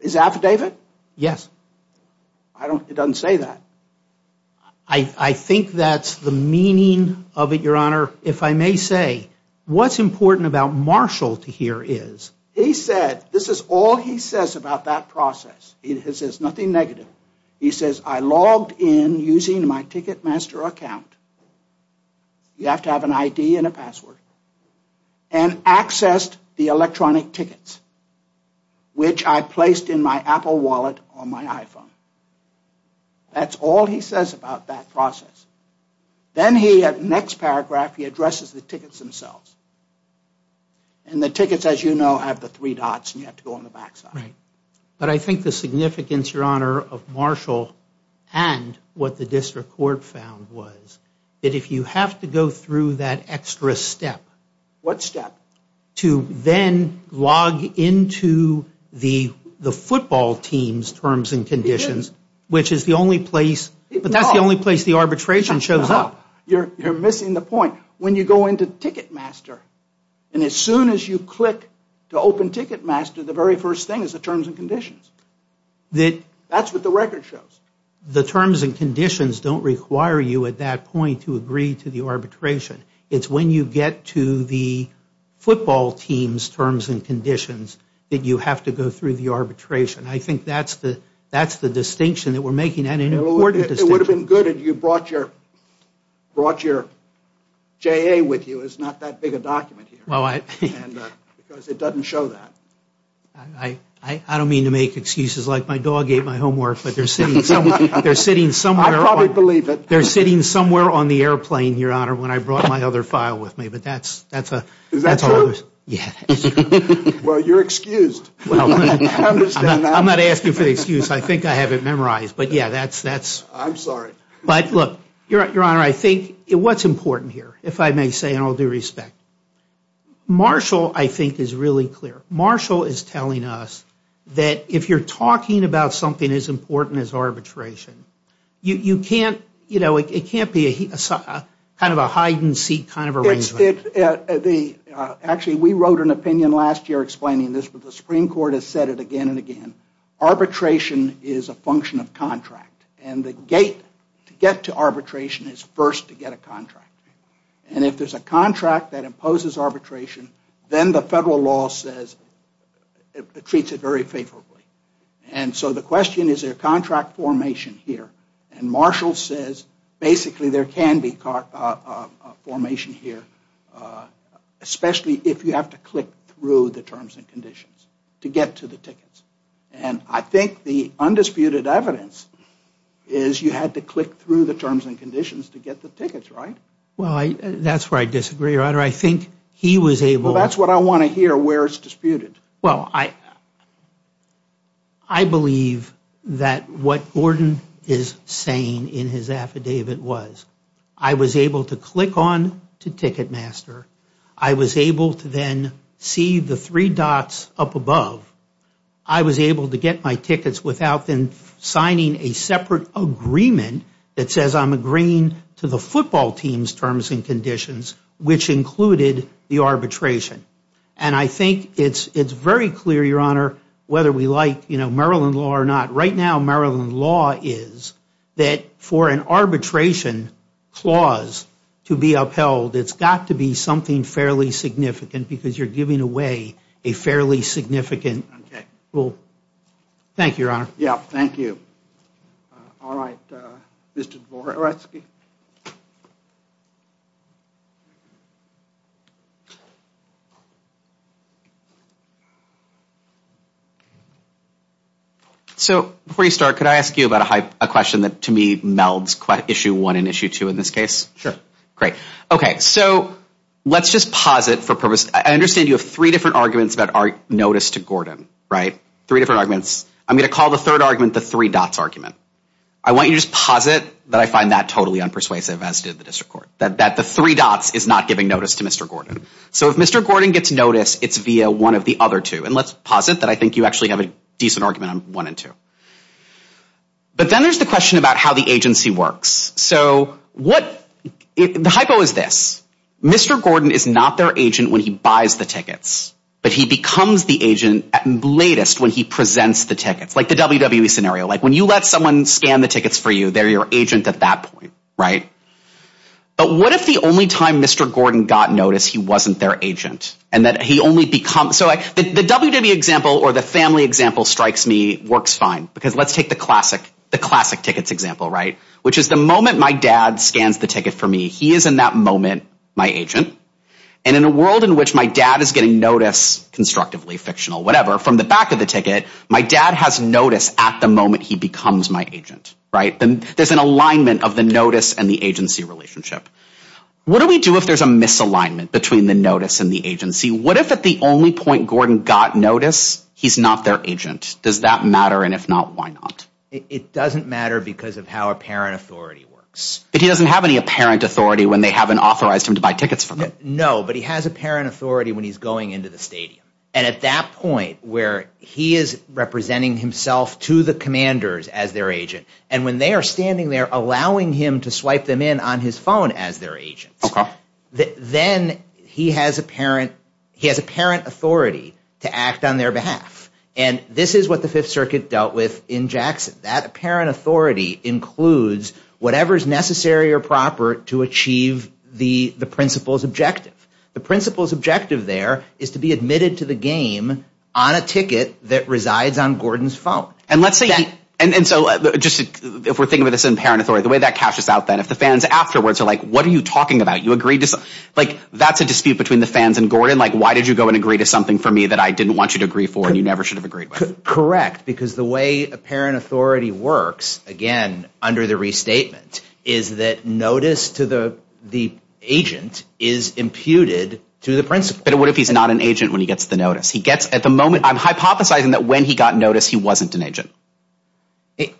His affidavit? Yes. It doesn't say that. I think that's the meaning of it, your honor. If I may say, what's important about Marshall to hear is He said, this is all he says about that process. He says nothing negative. He says, I logged in using my Ticketmaster account. You have to have an ID and a password. And accessed the electronic tickets, which I placed in my Apple wallet on my iPhone. That's all he says about that process. Then he, at the next paragraph, he addresses the tickets themselves. And the tickets, as you know, have the three dots and you have to go on the back side. But I think the significance, your honor, of Marshall and what the district court found was that if you have to go through that extra step. What step? To then log into the football team's terms and conditions, which is the only place, but that's the only place the arbitration shows up. You're missing the point. When you go into Ticketmaster, and as soon as you click to open Ticketmaster, the very first thing is the terms and conditions. That's what the record shows. The terms and conditions don't require you at that point to agree to the arbitration. It's when you get to the football team's terms and conditions that you have to go through the arbitration. I think that's the distinction that we're making, and an important distinction. It would have been good if you brought your JA with you. It's not that big a document here. Because it doesn't show that. I don't mean to make excuses like my dog ate my homework, but they're sitting somewhere. I probably believe it. They're sitting somewhere on the airplane, Your Honor, when I brought my other file with me. Is that true? Yes. Well, you're excused. I'm not asking for the excuse. I think I have it memorized. I'm sorry. Your Honor, I think what's important here, if I may say in all due respect, Marshall, I think, is really clear. Marshall is telling us that if you're talking about something as important as arbitration, it can't be kind of a hide-and-seek kind of arrangement. Actually, we wrote an opinion last year explaining this, but the Supreme Court has said it again and again. Arbitration is a function of contract, and the gate to get to arbitration is first to get a contract. And if there's a contract that imposes arbitration, then the federal law says it treats it very favorably. And so the question is, is there contract formation here? And Marshall says, basically, there can be formation here, especially if you have to click through the terms and conditions to get to the tickets. And I think the undisputed evidence is you had to click through the terms and conditions to get the tickets, right? Well, that's where I disagree, Your Honor. I think he was able to... Well, that's what I want to hear, where it's disputed. Well, I believe that what Gordon is saying in his affidavit was, I was able to click on to Ticketmaster. I was able to then see the three dots up above. I was able to get my tickets without then signing a separate agreement that says I'm agreeing to the football team's terms and conditions, which included the arbitration. And I think it's very clear, Your Honor, whether we like Maryland law or not. Right now, Maryland law is that for an arbitration clause to be upheld, it's got to be something fairly significant because you're giving away a fairly significant rule. Thank you, Your Honor. Yeah, thank you. All right, Mr. Dvoretsky. So before you start, could I ask you about a question that, to me, melds Issue 1 and Issue 2 in this case? Sure. Great. Okay, so let's just pause it for purpose. I understand you have three different arguments that are noticed to Gordon, right? Three different arguments. I'm going to call the third argument the three dots argument. I want you to just pause it that I find that totally unpersuasive, as did the district court, that the three dots is not giving notice to Mr. Gordon. So if Mr. Gordon gets notice, it's via one of the other two. And let's pause it that I think you actually have a decent argument on 1 and 2. But then there's the question about how the agency works. So the hypo is this. Mr. Gordon is not their agent when he buys the tickets, but he becomes the agent at latest when he presents the tickets, like the WWE scenario. Like when you let someone scan the tickets for you, they're your agent at that point, right? But what if the only time Mr. Gordon got notice he wasn't their agent and that he only becomes? So the WWE example or the family example strikes me works fine, because let's take the classic tickets example, right, which is the moment my dad scans the ticket for me, he is in that moment my agent. And in a world in which my dad is getting notice, constructively fictional, whatever, from the back of the ticket, my dad has notice at the moment he becomes my agent, right? There's an alignment of the notice and the agency relationship. What do we do if there's a misalignment between the notice and the agency? What if at the only point Gordon got notice he's not their agent? Does that matter? And if not, why not? It doesn't matter because of how apparent authority works. But he doesn't have any apparent authority when they haven't authorized him to buy tickets from them. No, but he has apparent authority when he's going into the stadium. And at that point where he is representing himself to the commanders as their agent, and when they are standing there allowing him to swipe them in on his phone as their agent, then he has apparent authority to act on their behalf. And this is what the Fifth Circuit dealt with in Jackson. That apparent authority includes whatever is necessary or proper to achieve the principal's objective. The principal's objective there is to be admitted to the game on a ticket that resides on Gordon's phone. And let's say, and so just if we're thinking of this in apparent authority, the way that cashes out then, if the fans afterwards are like, what are you talking about? You agreed to something? Like, that's a dispute between the fans and Gordon? Like, why did you go and agree to something for me that I didn't want you to agree for and you never should have agreed with? Correct, because the way apparent authority works, again, under the restatement, is that notice to the agent is imputed to the principal. But what if he's not an agent when he gets the notice? He gets, at the moment, I'm hypothesizing that when he got notice he wasn't an agent.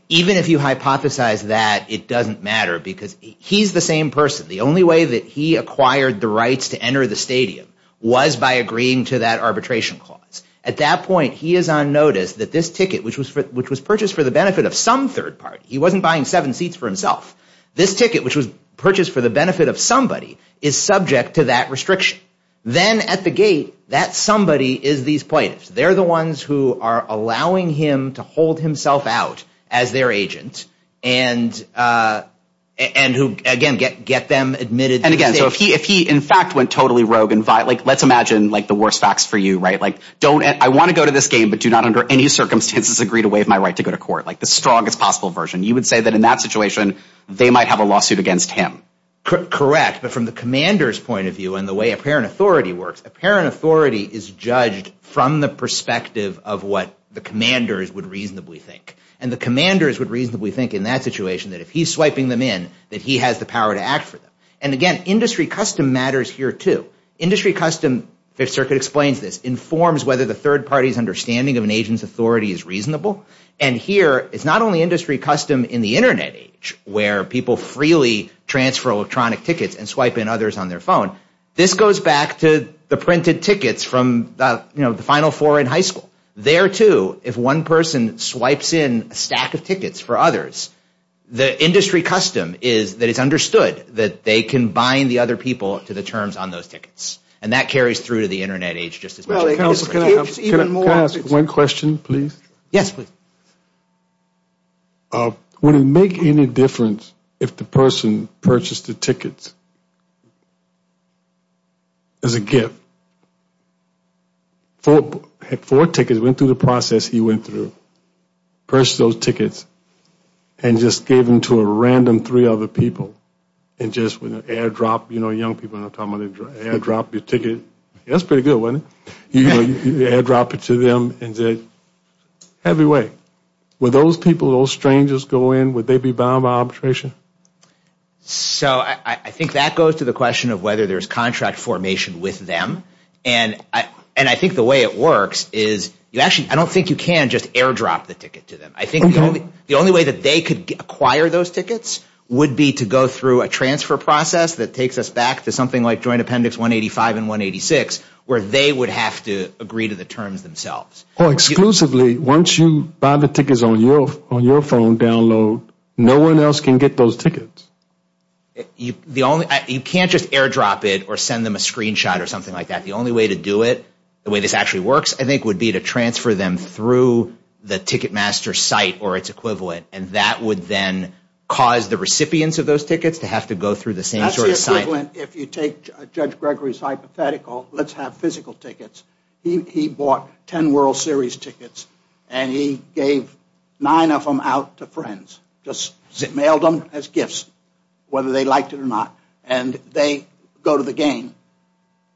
Even if you hypothesize that, it doesn't matter because he's the same person. The only way that he acquired the rights to enter the stadium was by agreeing to that arbitration clause. At that point, he is on notice that this ticket, which was purchased for the benefit of some third party, he wasn't buying seven seats for himself. This ticket, which was purchased for the benefit of somebody, is subject to that restriction. Then at the gate, that somebody is these plaintiffs. They're the ones who are allowing him to hold himself out as their agent and who, again, get them admitted. And again, so if he, in fact, went totally rogue and violent, let's imagine the worst facts for you, right? I want to go to this game, but do not under any circumstances agree to waive my right to go to court. Like the strongest possible version. You would say that in that situation, they might have a lawsuit against him. Correct, but from the commander's point of view and the way apparent authority works, apparent authority is judged from the perspective of what the commanders would reasonably think. And the commanders would reasonably think in that situation that if he's swiping them in, that he has the power to act for them. And again, industry custom matters here too. Industry custom, Fifth Circuit explains this, informs whether the third party's understanding of an agent's authority is reasonable. And here, it's not only industry custom in the Internet age where people freely transfer electronic tickets and swipe in others on their phone. This goes back to the printed tickets from the final four in high school. There too, if one person swipes in a stack of tickets for others, the industry custom is that it's understood that they can bind the other people to the terms on those tickets. And that carries through to the Internet age just as much. Can I ask one question, please? Yes, please. Would it make any difference if the person purchased the tickets as a gift? Four tickets went through the process he went through. Purchased those tickets and just gave them to a random three other people and just with an airdrop, you know, young people are talking about airdrop your ticket. That's pretty good, wasn't it? You know, you airdrop it to them and say, have your way. Would those people, those strangers go in, would they be bound by arbitration? So I think that goes to the question of whether there's contract formation with them. And I think the way it works is you actually, I don't think you can just airdrop the ticket to them. I think the only way that they could acquire those tickets would be to go through a transfer process that takes us back to something like Joint Appendix 185 and 186, where they would have to agree to the terms themselves. Exclusively, once you buy the tickets on your phone download, no one else can get those tickets. You can't just airdrop it or send them a screenshot or something like that. The only way to do it, the way this actually works, I think, would be to transfer them through the Ticketmaster site or its equivalent, and that would then cause the recipients of those tickets to have to go through the same sort of site. That's the equivalent, if you take Judge Gregory's hypothetical, let's have physical tickets. He bought ten World Series tickets, and he gave nine of them out to friends, just mailed them as gifts, whether they liked it or not, and they go to the game.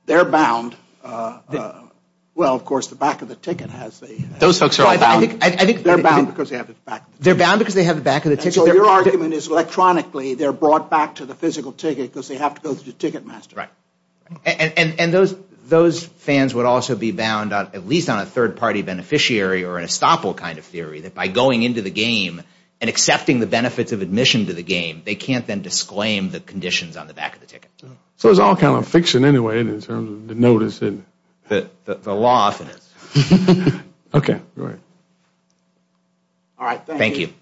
They're bound. Well, of course, the back of the ticket has the... Those folks are all bound. They're bound because they have the back of the ticket. They're bound because they have the back of the ticket. So your argument is electronically they're brought back to the physical ticket because they have to go through Ticketmaster. Right. And those fans would also be bound, at least on a third-party beneficiary or an estoppel kind of theory, that by going into the game and accepting the benefits of admission to the game, they can't then disclaim the conditions on the back of the ticket. So it's all kind of fiction anyway in terms of the notice and... The law of it. Okay. All right. Thank you.